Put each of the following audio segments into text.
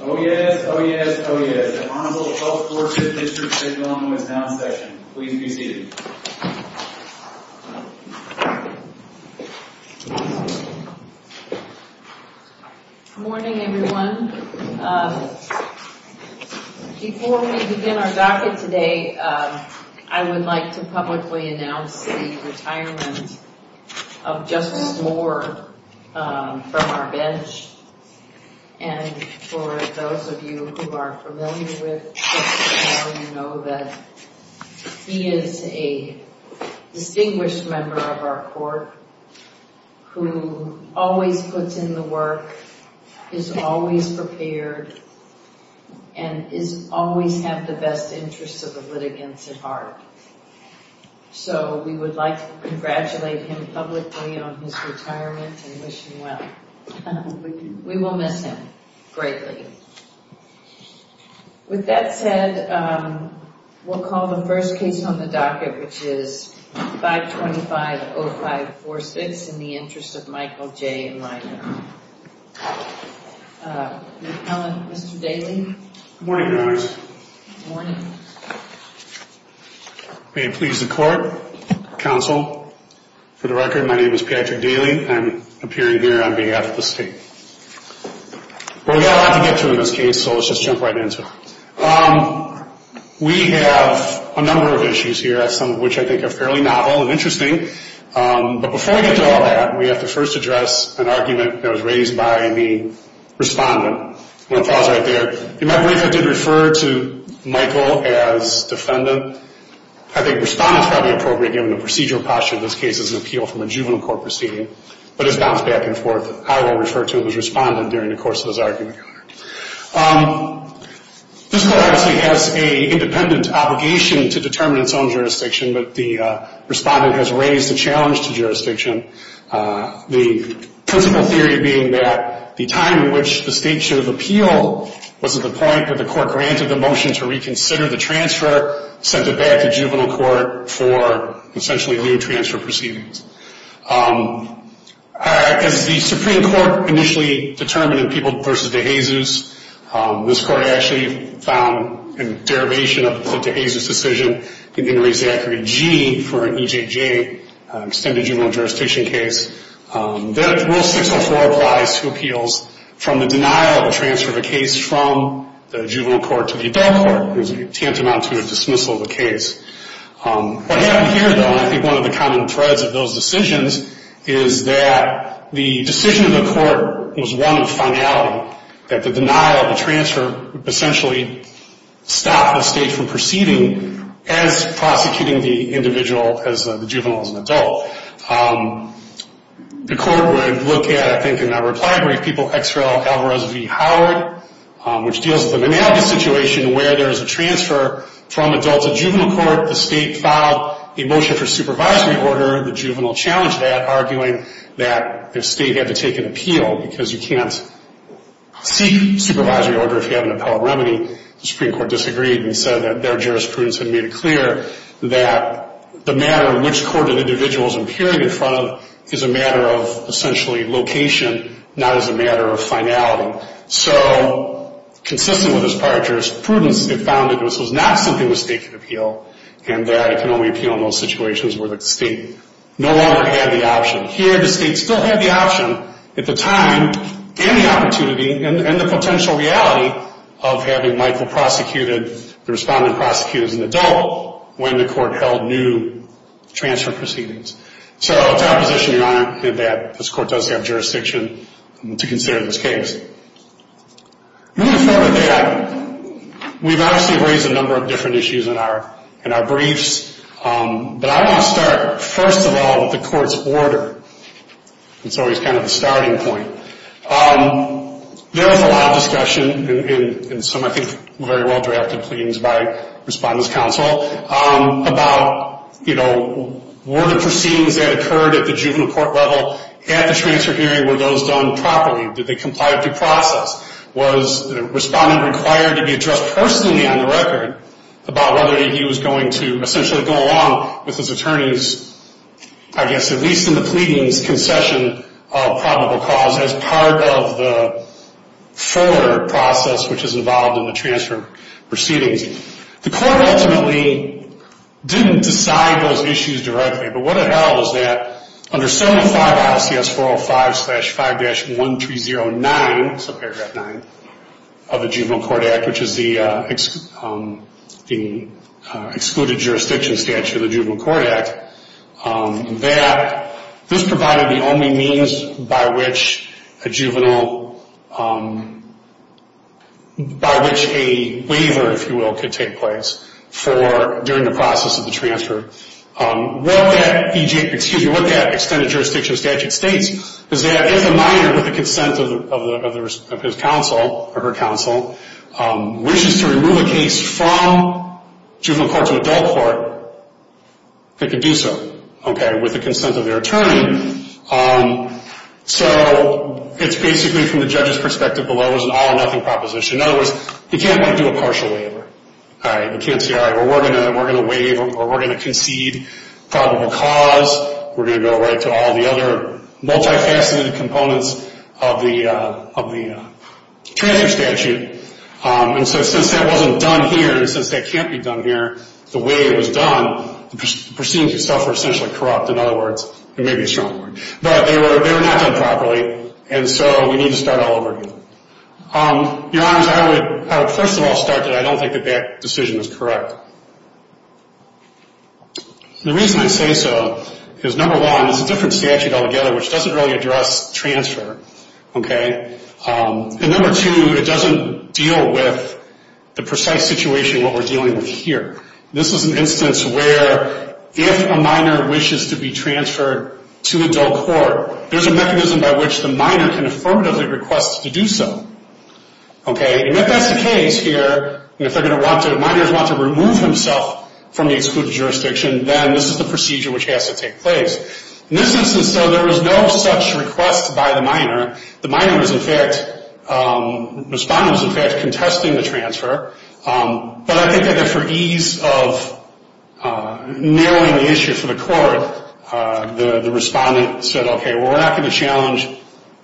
Oh, yes. Oh, yes. Oh, yes. The Honorable Health Force of the District of Oklahoma is now in session. Please be seated. Good morning, everyone. Before we begin our docket today, I would like to publicly announce the retirement of Justice Moore from our bench. And for those of you who are familiar with Justice Moore, you know that he is a distinguished member of our court, who always puts in the work, is always prepared, and is always have the best interests of the litigants at heart. So we would like to congratulate him publicly on his retirement and wish him well. We will miss him greatly. With that said, we'll call the first case on the docket, which is 525-0546, in the interest of Michael J. Leiter. Mr. Daly? Good morning, Your Honors. Good morning. May it please the Court, Counsel, for the record, my name is Patrick Daly. I'm appearing here on behalf of the state. Well, we have a lot to get to in this case, so let's just jump right into it. We have a number of issues here, some of which I think are fairly novel and interesting. But before we get to all that, we have to first address an argument that was raised by the respondent. One of the files right there. You might believe I did refer to Michael as defendant. I think respondent is probably appropriate, given the procedural posture of this case, as an appeal from a juvenile court proceeding. But it's bounced back and forth. I will refer to him as respondent during the course of this argument. This court obviously has an independent obligation to determine its own jurisdiction, but the respondent has raised a challenge to jurisdiction. The principle theory being that the time in which the state should have appealed wasn't the point, but the court granted the motion to reconsider the transfer, sent it back to juvenile court for essentially new transfer proceedings. As the Supreme Court initially determined in People v. De Jesus, this court actually found a derivation of the De Jesus decision in Henry Zachary G. for an EJJ, Extended Juvenile Jurisdiction case. That Rule 604 applies to appeals from the denial of a transfer of a case from the juvenile court to the adult court. There's a tantamount to a dismissal of a case. What happened here, though, and I think one of the common threads of those decisions, is that the decision of the court was one of finality, that the denial of a transfer essentially stopped the state from proceeding as prosecuting the individual as the juvenile as an adult. The court would look at, I think in that reply brief, People x Rel. Alvarez v. Howard, which deals with the situation where there's a transfer from adult to juvenile court. The state filed a motion for supervisory order. The juvenile challenged that, arguing that the state had to take an appeal because you can't seek supervisory order if you have an appellate remedy. The Supreme Court disagreed and said that their jurisprudence had made it clear that the matter of which court an individual is appearing in front of is a matter of essentially location, not as a matter of finality. So, consistent with this prior jurisprudence, it found that this was not something the state could appeal, and that it can only appeal in those situations where the state no longer had the option. Here, the state still had the option at the time, and the opportunity, and the potential reality of having Michael prosecuted, the respondent prosecuted as an adult, when the court held new transfer proceedings. So, to our position, Your Honor, that this court does have jurisdiction to consider this case. Moving forward with that, we've obviously raised a number of different issues in our briefs, but I want to start, first of all, with the court's order. It's always kind of the starting point. There was a lot of discussion, and some, I think, very well drafted pleadings by Respondent's counsel, about, you know, were the proceedings that occurred at the juvenile court level at the transfer hearing, were those done properly? Did they comply with the process? Was the respondent required to be addressed personally on the record about whether he was going to essentially go along with his attorney's, I guess, at least in the pleadings, concession of probable cause as part of the fuller process, which is involved in the transfer proceedings. The court ultimately didn't decide those issues directly, but what it held is that under 75 ILCS 405-5-1309, that's in paragraph 9 of the Juvenile Court Act, which is the excluded jurisdiction statute of the Juvenile Court Act, that this provided the only means by which a juvenile, by which a waiver, if you will, could take place during the process of the transfer. What that extended jurisdiction statute states is that if a minor, with the consent of his counsel, or her counsel, wishes to remove a case from juvenile court to adult court, they can do so, okay, with the consent of their attorney. So it's basically, from the judge's perspective, below is an all or nothing proposition. In other words, you can't do a partial waiver. You can't say, all right, we're going to waive, or we're going to concede probable cause, we're going to go right to all the other multifaceted components of the transfer statute. And so since that wasn't done here, and since that can't be done here, the way it was done, the proceedings itself were essentially corrupt. In other words, it may be a strong point. But they were not done properly, and so we need to start all over again. Your Honors, I would first of all start that I don't think that that decision is correct. The reason I say so is, number one, it's a different statute altogether, which doesn't really address transfer, okay? And number two, it doesn't deal with the precise situation that we're dealing with here. This is an instance where, if a minor wishes to be transferred to adult court, there's a mechanism by which the minor can affirmatively request to do so. Okay, and if that's the case here, and if minors want to remove himself from the excluded jurisdiction, then this is the procedure which has to take place. In this instance, though, there was no such request by the minor. The minor was in fact, the respondent was in fact, protesting the transfer, but I think that for ease of narrowing the issue for the court, the respondent said, okay, well, we're not going to challenge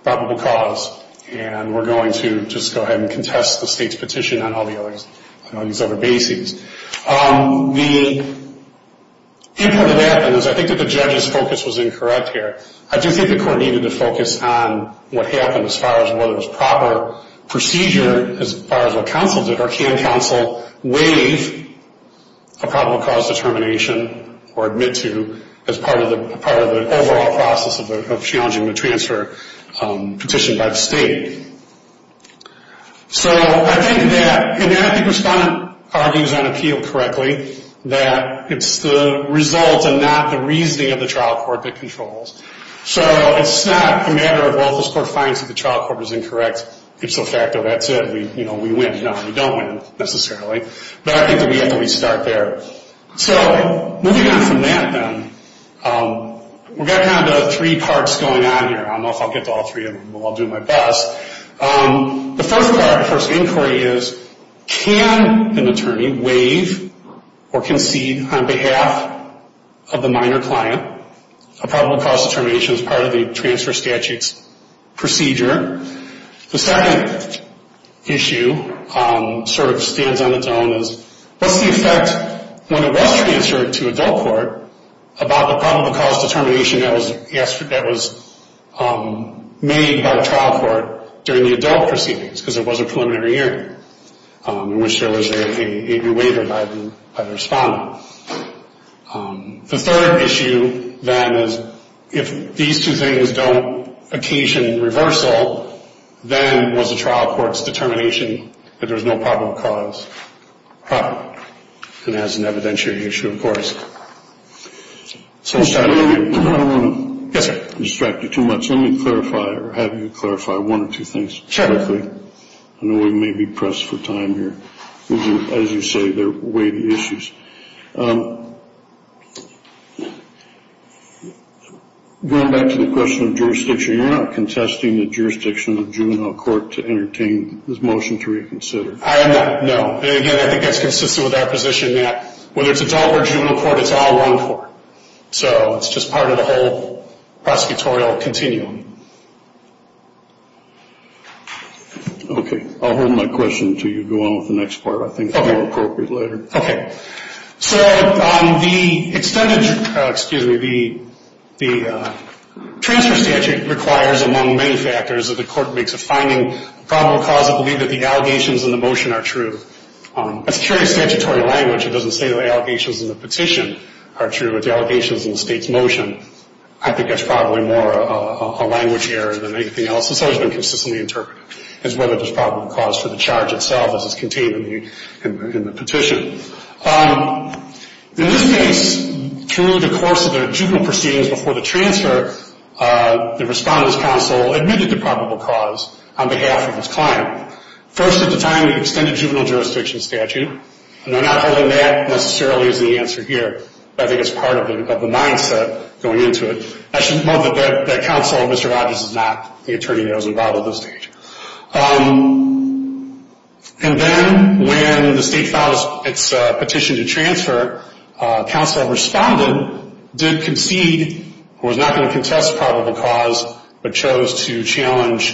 probable cause, and we're going to just go ahead and contest the state's petition on all these other bases. The input of that, and I think that the judge's focus was incorrect here, I do think the court needed to focus on what happened as far as whether it was proper procedure as far as what counsel did, or can counsel waive a probable cause determination or admit to as part of the overall process of challenging the transfer petition by the state. So, I think that, and I think the respondent argues on appeal correctly, that it's the result and not the reasoning of the trial court that controls. So, it's not a matter of, well, if this court finds that the trial court is incorrect, it's a fact that that's it, you know, we win. No, we don't win, necessarily. But I think that we have to restart there. So, moving on from that, then, we've got kind of three parts going on here. I don't know if I'll get to all three of them, but I'll do my best. The first part, the first inquiry is, can an attorney waive or concede on behalf of the minor client a probable cause determination as part of the transfer statutes procedure? The second issue sort of stands on its own as, what's the effect when it was transferred to adult court about the probable cause determination that was made by the trial court during the adult proceedings, because it was a preliminary hearing, in which there was a waiver by the respondent. The third issue, then, is, if these two things don't occasion reversal, then was the trial court's determination that there's no probable cause. And that's an evidentiary issue, of course. I don't want to distract you too much. Let me clarify, or have you clarify one or two things. I know we may be pressed for time here. As you say, they're weighty issues. Going back to the question of jurisdiction, you're not contesting the jurisdiction of juvenile court to entertain this motion to reconsider. I am not, no. And again, I think that's consistent with our position that whether it's adult or juvenile court, it's all one court. So it's just part of the whole prosecutorial continuum. Okay, I'll hold my question until you go on with the next part. I think it will be appropriate later. Okay. So the extended, excuse me, the transfer statute requires, among many factors, that the court makes a finding, probable cause of belief that the allegations in the motion are true. That's purely statutory language. It doesn't say the allegations in the petition are true, but the allegations in the state's motion. I think that's probably more a language error than anything else. It's always been consistently interpreted as whether there's probable cause for the charge itself, as is contained in the petition. In this case, through the course of the juvenile proceedings before the transfer, the respondent's counsel admitted to probable cause on behalf of his client. First at the time, we extended juvenile jurisdiction statute. And not only that necessarily is the answer here, but I think it's part of the mindset going into it. I should note that that counsel, Mr. Rodgers, is not the attorney that was involved at this stage. And then, when the state filed its petition to transfer, counsel responded, did concede, was not going to contest probable cause, but chose to challenge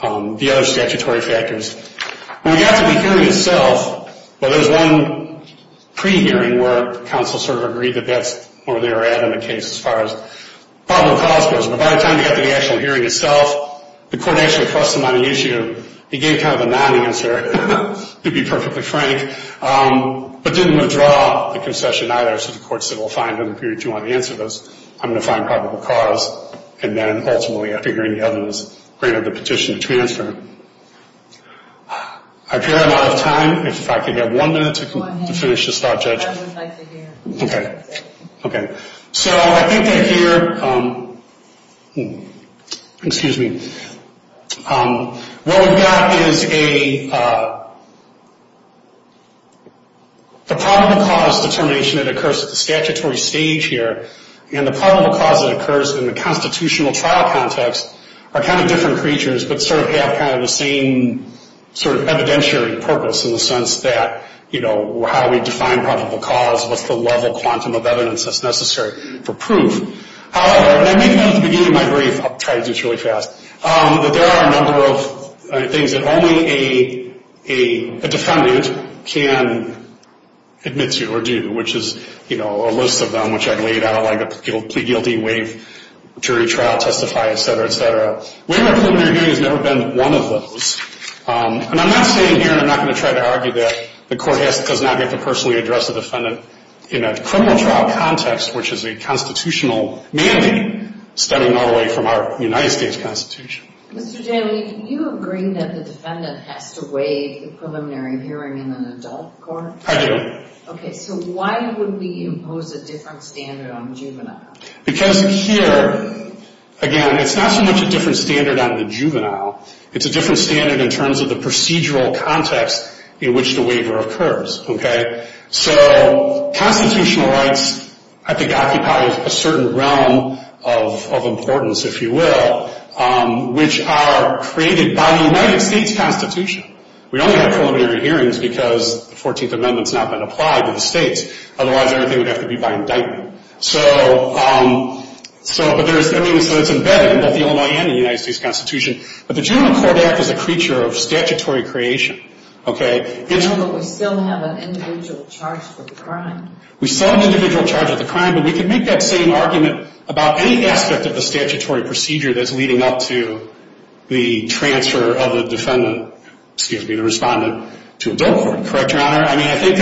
the other statutory factors. We got to the hearing itself, but there's one pre-hearing where counsel sort of agreed that that's more than an adamant case as far as probable cause goes. But by the time we got to the actual hearing itself, the court actually pressed him on the issue. He gave kind of a non-answer, to be perfectly frank, but didn't withdraw the concession either. So the court said, well, fine, if you want to answer this, I'm going to find probable cause. And then, ultimately, after hearing the evidence, granted the petition to transfer. I appear I'm out of time. If I could have one minute to finish to start judging. Okay. Okay. So I think that here... Excuse me. What we've got is a... The probable cause determination that occurs at the statutory stage here and the probable cause that occurs in the constitutional trial context are kind of different creatures, but sort of have kind of the same sort of evidentiary purpose in the sense that, you know, how we define probable cause, what's the level quantum of evidence that's necessary for proof. However, and I make note at the beginning of my brief, I'll try to do this really fast, that there are a number of things that only a defendant can admit to or do, which is, you know, a list of them, which I've laid out, like a plea guilty, waive jury trial, testify, et cetera, et cetera. Waive preliminary hearing has never been one of those. And I'm not saying here, and I'm not going to try to argue that the court does not get to personally address a defendant in a criminal trial context, which is a constitutional mandate stemming all the way from our United States Constitution. Mr. Jaley, do you agree that the defendant has to waive the preliminary hearing in an adult court? I do. Okay, so why would we impose a different standard on juvenile? Because here, again, it's not so much a different standard on the juvenile, it's a different standard in terms of the procedural context in which the waiver occurs, okay? So constitutional rights, I think, occupy a certain realm of importance, if you will, which are created by the United States Constitution. We only have preliminary hearings because the 14th Amendment's not been applied to the states. Otherwise, everything would have to be by indictment. So, but there's, I mean, so it's embedded in both the old and the United States Constitution. But the Juvenile Court Act is a creature of statutory creation, okay? But we still have an individual charge for the crime. We still have an individual charge of the crime, but we could make that same argument about any aspect of the statutory procedure that's leading up to the transfer of the defendant, excuse me, the respondent, to adult court, correct, Your Honor? I mean, I think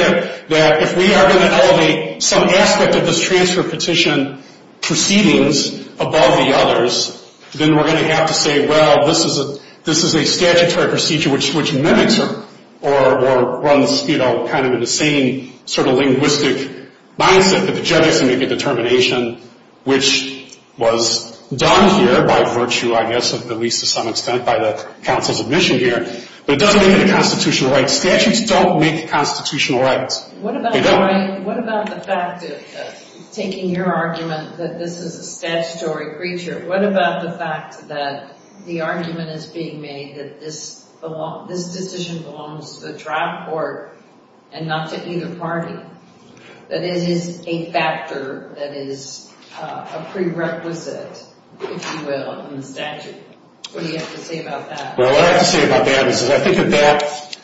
that if we are going to elevate some aspect of this transfer petition proceedings above the others, then we're going to have to say, well, this is a statutory procedure which mimics or runs, you know, kind of in the same sort of linguistic mindset that the judge has to make a determination, which was done here by virtue, I guess, at least to some extent by the counsel's admission here. But it doesn't make it a constitutional right. Statutes don't make constitutional rights. They don't. What about the fact that, taking your argument that this is a statutory creature, what about the fact that the argument is being made that this decision belongs to the trial court and not to either party, that it is a factor that is a prerequisite, if you will, in the statute? What do you have to say about that? Well, what I have to say about that is that I think that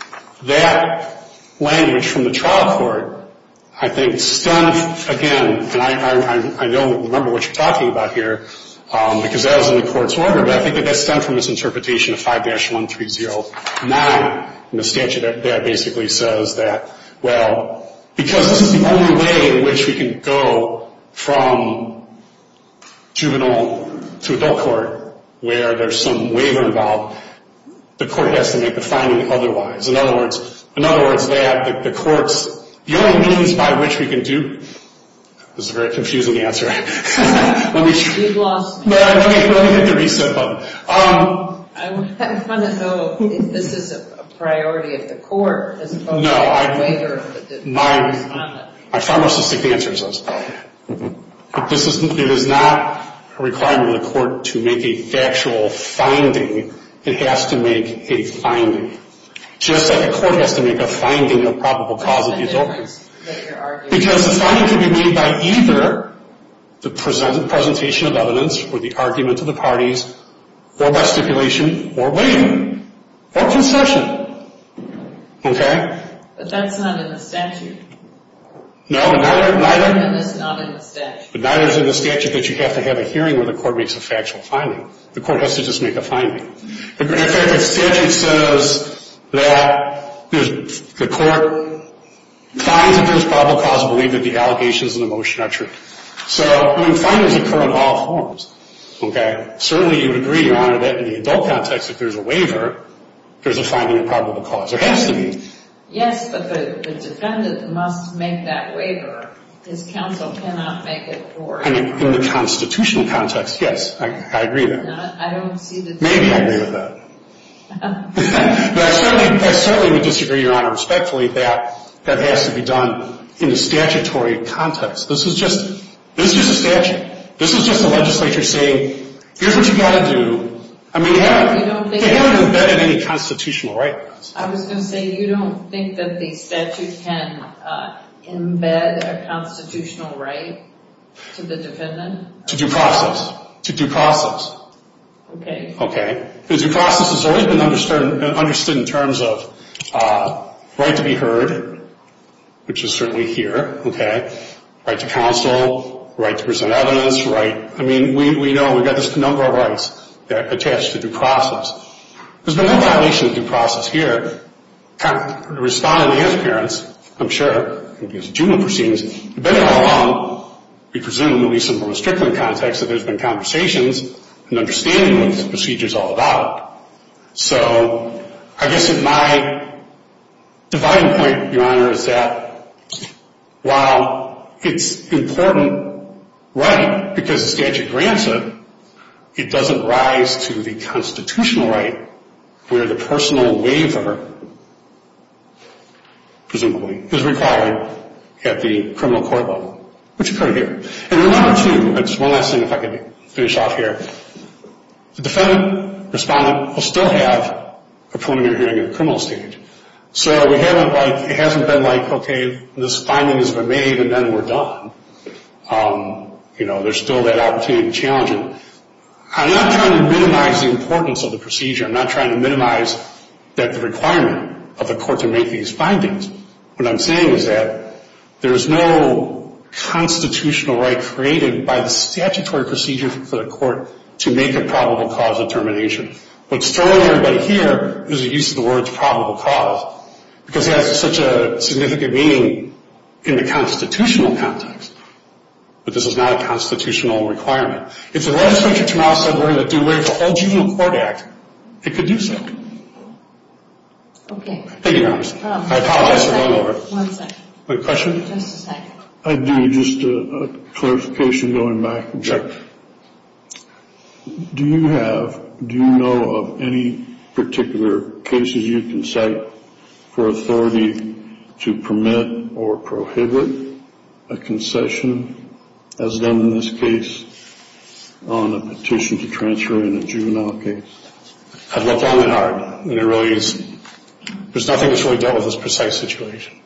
that language from the trial court, I think, stemmed, again, and I don't remember what you're talking about here, because that was in the court's order, but I think that that stemmed from this interpretation of 5-1309 in the statute that basically says that, well, because this is the only way in which we can go from juvenile to adult court, where there's some waiver involved, the court has to make the finding otherwise. In other words, that the court's... The only means by which we can do... This is a very confusing answer. You've lost me. No, let me hit the reset button. I want to know if this is a priority of the court, as opposed to a waiver... No, my pharmacistic answer is no. It is not a requirement of the court to make a factual finding. It has to make a finding. Just like a court has to make a finding of probable cause of the adult court. Because the finding can be made by either the presentation of evidence or the argument of the parties, or by stipulation, or waiving, or concession. Okay? But that's not in the statute. No, neither... That's not in the statute. But neither is in the statute that you have to have a hearing where the court makes a factual finding. The court has to just make a finding. In fact, the statute says that the court finds that there's probable cause I believe that the allegations in the motion are true. So, findings occur in all forms. Certainly you would agree, Your Honor, that in the adult context, if there's a waiver, there's a finding of probable cause. There has to be. Yes, but the defendant must make that waiver. His counsel cannot make it for him. In the constitutional context, yes. I agree with that. Maybe I agree with that. But I certainly would disagree, Your Honor, respectfully that that has to be done in the statutory context. This is just a statute. This is just the legislature saying, here's what you've got to do. They haven't embedded any constitutional right. I was going to say, you don't think that the statute can embed a constitutional right to the defendant? To due process. Okay. Because due process has always been understood in terms of right to be heard, which is certainly here. Right to counsel. Right to present evidence. We know, we've got just a number of rights that are attached to due process. There's been no violation of due process here. Responding to his parents, I'm sure, in his juvenile proceedings, depending on how long, we presume, in the simplest trickling context, that there's been conversations and understanding of what this procedure is all about. So, I guess at my dividing point, Your Honor, is that while it's an important right, because the statute grants it, it doesn't rise to the constitutional right where the personal waiver, presumably, is required at the criminal court level, which is right here. One last thing, if I can finish off here. The defendant, respondent, will still have a preliminary hearing at the criminal stage. So, it hasn't been like, okay, this finding has been made and then we're done. You know, there's still that opportunity to challenge it. I'm not trying to minimize the importance of the procedure. I'm not trying to minimize that requirement of the court to make these findings. What I'm saying is that there's no constitutional right created by the statutory procedure for the court to make a probable cause of termination. What's throwing everybody here is the use of the words probable cause because it has such a significant meaning in the constitutional context, but this is not a constitutional requirement. It's a legislature to now say we're going to do where the old juvenile court act, it could do something. Okay. Thank you, Your Honor. One second. Just a second. I do just a clarification going back. Do you have, do you know of any particular cases you can cite for authority to permit or prohibit a concession as done in this case on a petition to transfer in a juvenile case? I've looked long and hard and it really is, there's nothing that's really dealt with this precise situation.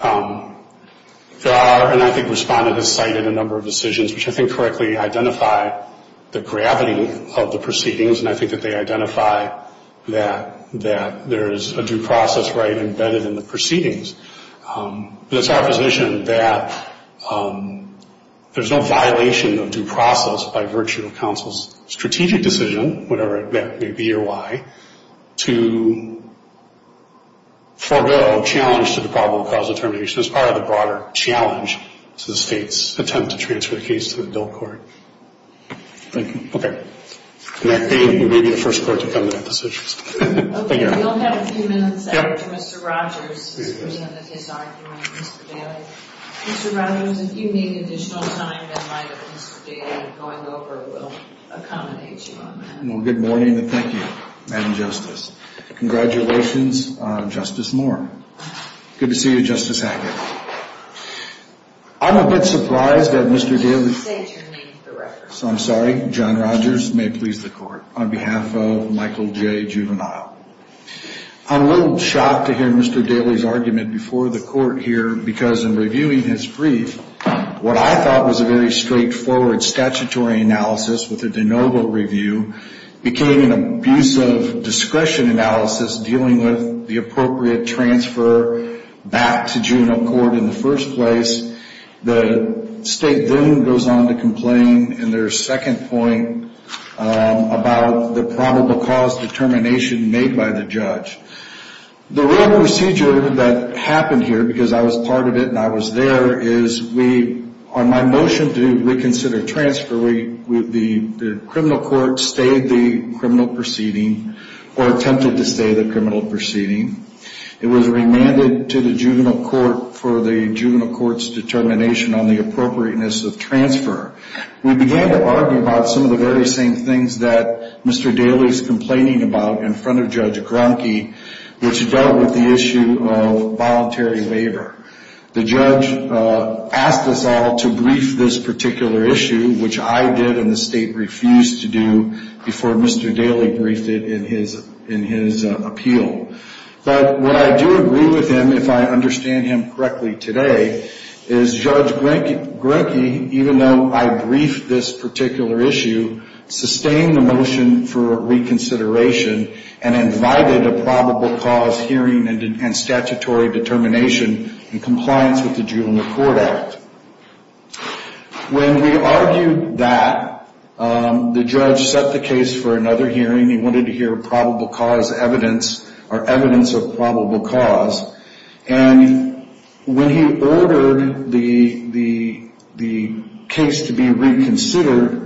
There are, and I think Respondent has cited a number of decisions which I think correctly identify the gravity of the proceedings and I think that they identify that there is a due process right embedded in the proceedings. It's our position that there's no violation of due process by virtue of counsel's strategic decision, whatever it may be or why, to forego challenge to the probable cause of termination as part of the broader challenge to the state's attempt to transfer the case to the adult court. Thank you. You may be the first court to come to that decision. Thank you. You'll have a few minutes after Mr. Rogers has presented his argument, Mr. Bailey. Mr. Rogers, if you need additional time, that might Mr. Bailey going over will accommodate you on that. Good morning and thank you, Madam Justice. Congratulations, Justice Moore. Good to see you, Justice Hackett. I'm a bit surprised that Mr. Bailey So I'm sorry, John Rogers, may it please the court, on behalf of Michael J. Juvenile. I'm a little shocked to hear Mr. Bailey's argument before the court here because in reviewing his brief, what I thought was a very straightforward statutory analysis with a de novo review became an abusive discretion analysis dealing with the appropriate transfer back to juvenile court in the first place. The state then goes on to complain in their second point about the probable cause determination made by the judge. The real procedure that happened here because I was part of it and I was there is we, on my motion to reconsider transfer, the criminal court stayed the criminal proceeding or attempted to stay the criminal proceeding. It was remanded to the juvenile court for the juvenile court's determination on the appropriateness of transfer. We began to argue about some of the very same things that Mr. Bailey is complaining about in front of Judge Gronke, which dealt with the issue of voluntary labor. The judge asked us all to brief this particular issue, which I did and the state refused to do before Mr. Bailey briefed it in his appeal. But what I do agree with him if I understand him correctly today is Judge Gronke, even though I briefed this particular issue, sustained the motion for reconsideration and invited a probable cause hearing and statutory determination in compliance with the juvenile court act. When we argued that the judge set the case for another hearing, he wanted to hear probable cause evidence or evidence of probable cause and when he ordered the case to be reconsidered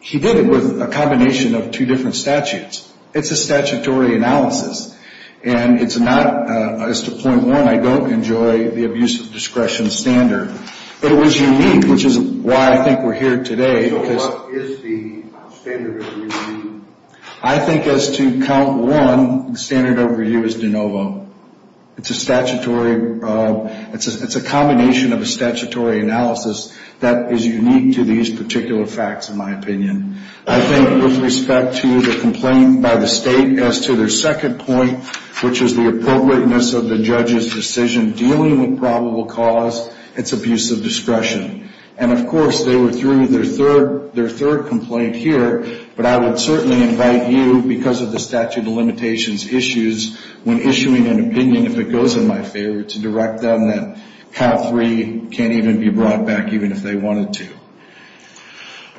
he did it with a combination of two different statutes. It's a statutory analysis and it's not, as to point one, I don't enjoy the abuse of discretion standard, but it was unique which is why I think we're here today So what is the standard of review? I think as to count one, the standard of review is de novo. It's a statutory it's a combination of a statutory analysis that is unique to these particular facts in my opinion. I think with respect to the complaint by the state as to their second point, which is the appropriateness of the judge's decision dealing with probable cause it's abuse of discretion. And of course they were through their third complaint here, but I would certainly invite you, because of the statute of limitations issues when issuing an opinion, if it goes in my favor, to direct them that count three can't even be brought back even if they wanted to.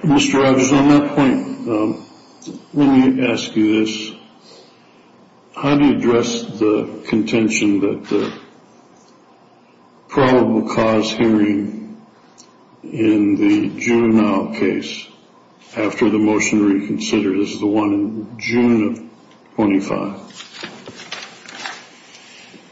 Mr. Rogers, on that point, let me ask you this. How do you address the contention that probable cause hearing in the Juneau case, after the motion reconsidered, this is the one in June of 25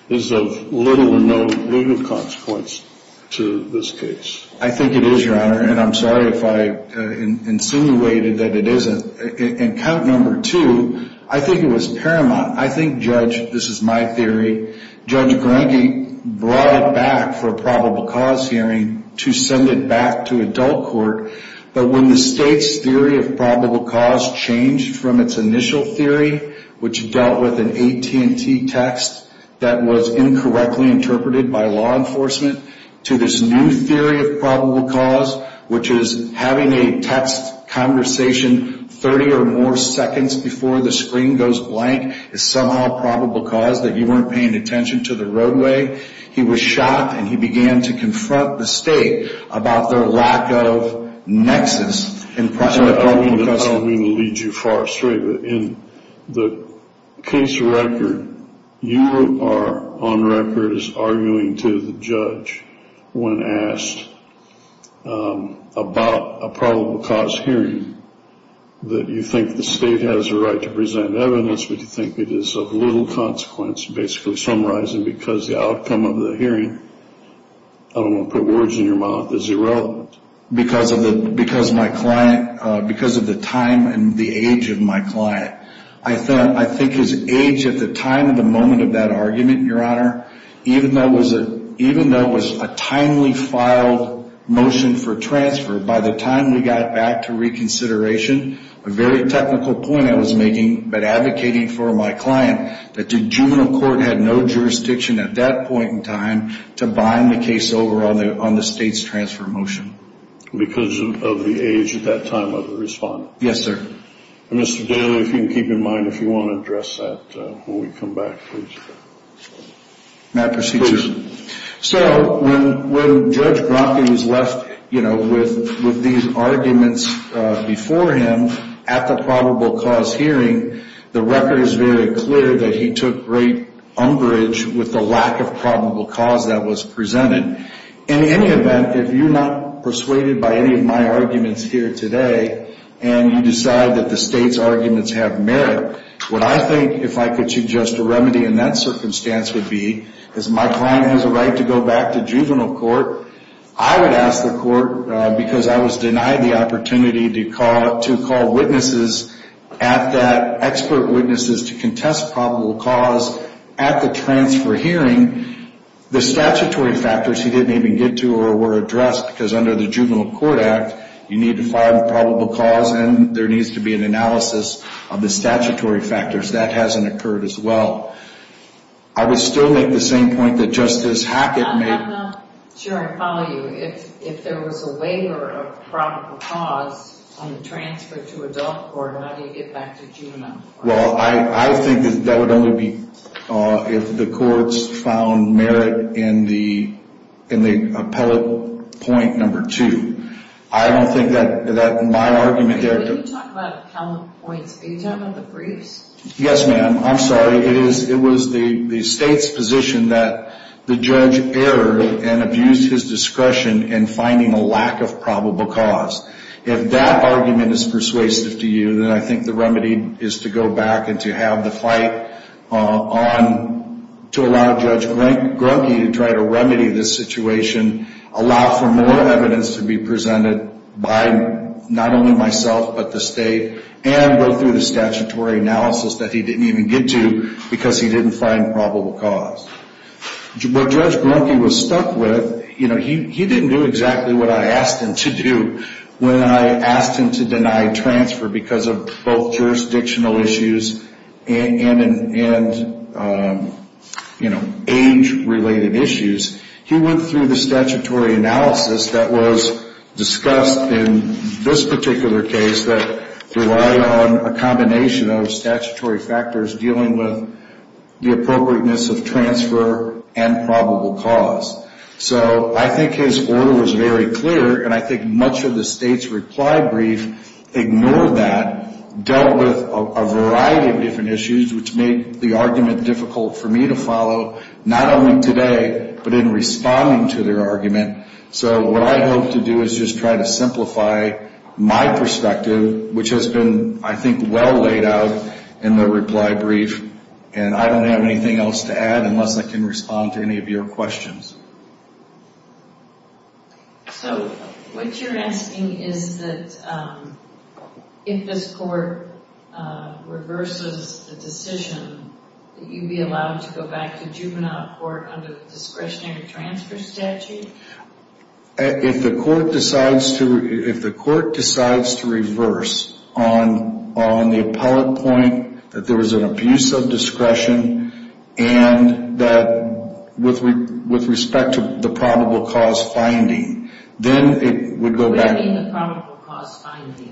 is of little or no legal consequence to this case? I think it is, Your Honor and I'm sorry if I insinuated that it isn't. In count number two, I think it was paramount. I think, Judge this is my theory, Judge Grunke brought it back for a probable cause hearing to send it back to adult court, but when the state's theory of probable cause changed from its initial theory which dealt with an AT&T text that was incorrectly interpreted by law enforcement, to this new theory of probable cause, which is having a text conversation 30 or more seconds before the screen goes blank is somehow probable cause that you were paying attention to the roadway he was shocked and he began to confront the state about their lack of nexus I don't mean to lead you far astray, but in the case record you are on record as arguing to the judge when asked about a probable cause hearing that you think the state has the right to present evidence, but you think it is of little consequence, basically summarizing because the outcome of the hearing I don't want to put words in your mouth, is irrelevant because of my client because of the time and the age of my client, I think his age at the time and the moment of that argument, your honor even though it was a timely filed motion for transfer, by the time we got back to reconsideration a very technical point I was making but advocating for my client that the juvenile court had no jurisdiction at that point in time to bind the case over on the state's transfer motion because of the age at that time of the respondent yes sir Mr. Daly, if you can keep in mind, if you want to address that when we come back please so when Judge Bromley was left with these arguments before him at the probable cause hearing the record is very clear that he took great umbrage with the lack of probable cause that was presented in any event if you're not persuaded by any of my arguments here today and you decide that the state's arguments have merit, what I think if I could suggest a remedy in that circumstance would be, is my client has a right to go back to juvenile court I would ask the court because I was denied the opportunity to call witnesses at that, expert witnesses to contest probable cause at the transfer hearing the statutory factors he didn't even get to or were addressed because under the juvenile court act you need to find probable cause and there needs to be an analysis of the statutory factors, that hasn't occurred as well I would still make the same point that Justice Hackett made I'm not sure I follow you, if there was a waiver of probable cause on the transfer to adult court how do you get back to juvenile court? I think that would only be if the courts found merit in the appellate point number two I don't think that my argument there when you talk about appellate points, are you talking about the briefs? Yes ma'am, I'm sorry it was the state's position that the judge erred and abused his discretion in finding a lack of probable cause if that argument is persuasive to you, then I think the remedy is to go back and to have the fight on to allow Judge Grunke to try to remedy this situation allow for more evidence to be presented by not only myself, but the state and go through the statutory analysis that he didn't even get to because he didn't find probable cause what Judge Grunke was stuck with, he didn't do exactly what I asked him to do when I asked him to deny transfer because of both jurisdictional issues and age related issues he went through the statutory analysis that was discussed in this particular case that relied on a combination of statutory factors dealing with the appropriateness of transfer and probable cause so I think his order was very clear and I think much of the state's reply brief ignored that, dealt with a variety of different issues which made the argument difficult for me to follow not only today but in responding to their argument so what I hope to do is just try to simplify my perspective which has been I think well laid out in the reply brief and I don't have anything else to add unless I can respond to any of your questions so what you're asking is that if this court reverses the decision that you'd be allowed to go back to juvenile court under the discretionary transfer statute if the court decides to reverse on the appellate point that there was an abuse of discretion and that with respect to the probable cause finding then it would go back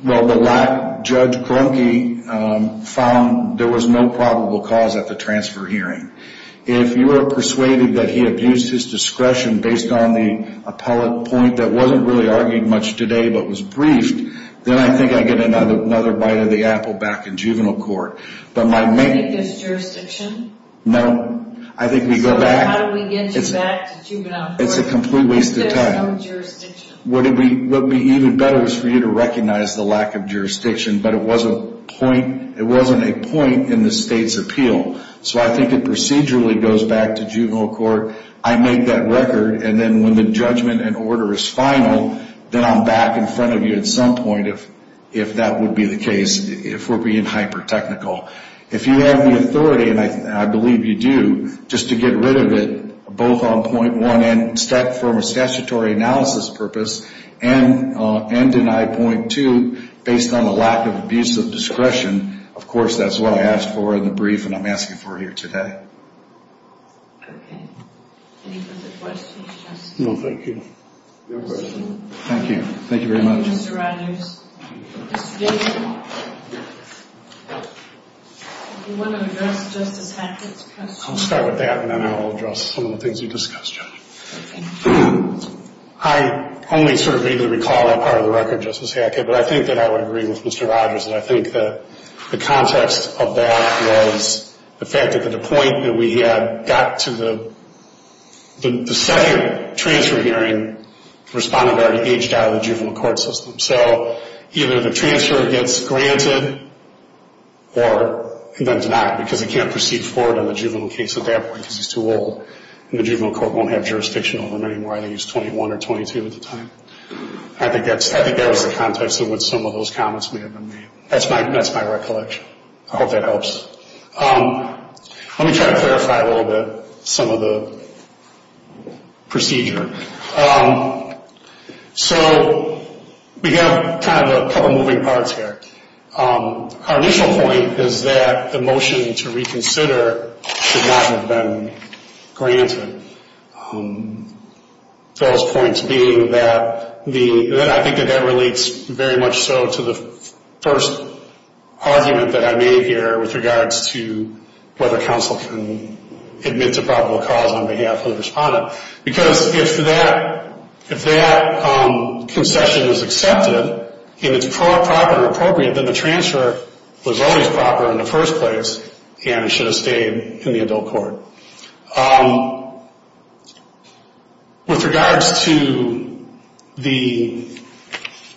well the judge found there was no probable cause at the transfer hearing if you are persuaded that he abused his discretion based on the appellate point that wasn't really argued much today but was briefed then I think I get another bite of the apple back in juvenile court but my main no I think we go back it's a complete waste of time what would be even better is for you to recognize the lack of jurisdiction but it wasn't a point in the state's appeal so I think it procedurally goes back to juvenile court I make that record and then when the judgment and order is final then I'm back in front of you at some point if that would be the case if we're being hyper technical if you have the authority and I believe you do just to get rid of it both on point one and from a statutory analysis purpose and denied point two based on the lack of abuse of discretion of course that's what I asked for in the brief and I'm asking for here today okay any further questions? no thank you thank you thank you very much Mr. Rogers do you want to address Justice Hackett's question? I'll start with that and then I'll address some of the things you discussed I only sort of vaguely recall that part of the record Justice Hackett but I think that I would agree with Mr. Rogers and I think that the context of that was the fact that the point that we had got to the the second transfer hearing the respondent already aged out of the juvenile court system so either the transfer gets granted or then denied because they can't proceed forward on the juvenile case at that point because he's too old and the juvenile court won't have jurisdiction over him anymore I think he's 21 or 22 at the time I think that was the context in which some of those comments may have been made that's my recollection I hope that helps let me try to clarify a little bit some of the procedure so we have kind of a couple moving parts here our initial point is that the motion to reconsider should not have been granted those points being that I think that that relates very much so to the first argument that I made here with regards to whether counsel can admit to probable cause on behalf of the respondent because if that concession is accepted and it's proper or appropriate then the transfer was always proper in the first place and it should have stayed in the adult court with regards to the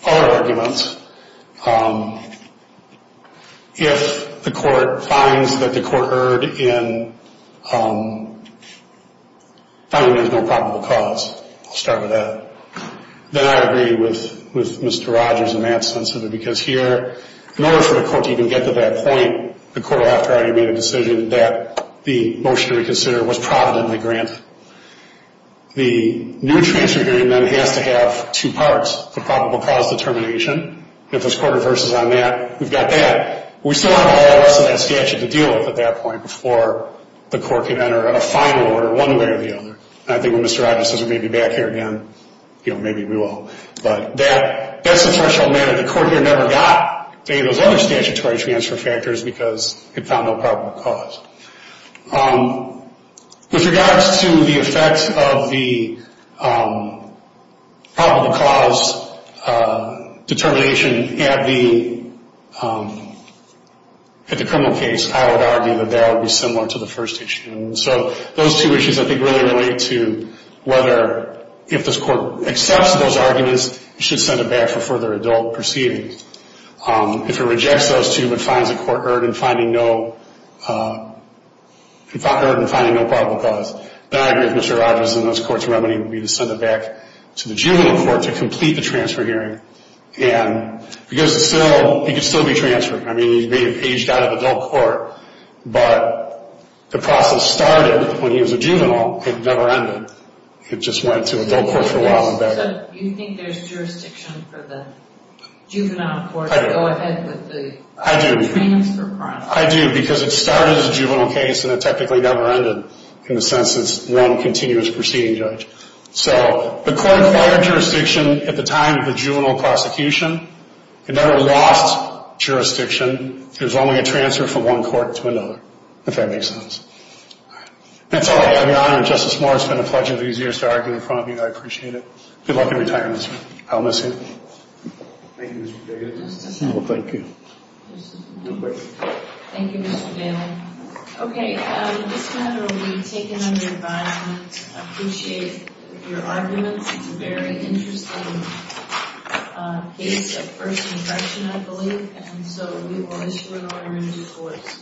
other arguments if the court finds that the court erred in finding there's no probable cause I'll start with that then I agree with Mr. Rogers in that sense simply because here in order for the court to even get to that point the court will have to already made a decision that the motion to reconsider was providently granted the new transfer agreement has to have two parts the probable cause determination if this court reverses on that we've got that but we still have all the rest of that statute to deal with at that point before the court can enter a final order one way or the other and I think when Mr. Rogers says we may be back here again maybe we will but that's the threshold matter the court here never got any of those other statutory transfer factors because it found no probable cause with regards to the effects of the probable cause determination at the criminal case I would argue that that would be similar to the first issue those two issues I think really relate to whether if this court accepts those arguments it should send it back for further adult proceedings if it rejects those two but finds the court erred in finding no finding no probable cause then I agree with Mr. Rogers in this court's remedy would be to send it back to the juvenile court to complete the transfer hearing and because it's still it could still be transferred I mean he may have aged out of adult court but the process started when he was a juvenile it never ended it just went to adult court for a while so you think there's jurisdiction for the juvenile court to go ahead with the transfer process? I do because it started as a juvenile case and it technically never ended in the sense that it's one continuous proceeding judge so the court acquired jurisdiction at the time of the juvenile prosecution it never lost jurisdiction it was only a transfer from one court to another if that makes sense that's all I have Your Honor and Justice Moore it's been a pleasure these years to argue in front of you I appreciate it good luck in retirement I'll miss you Thank you Mr. Daly Thank you Thank you Mr. Daly Okay This matter will be taken under environment I appreciate your arguments it's a very interesting case of first impression I believe and so we will issue an order in due course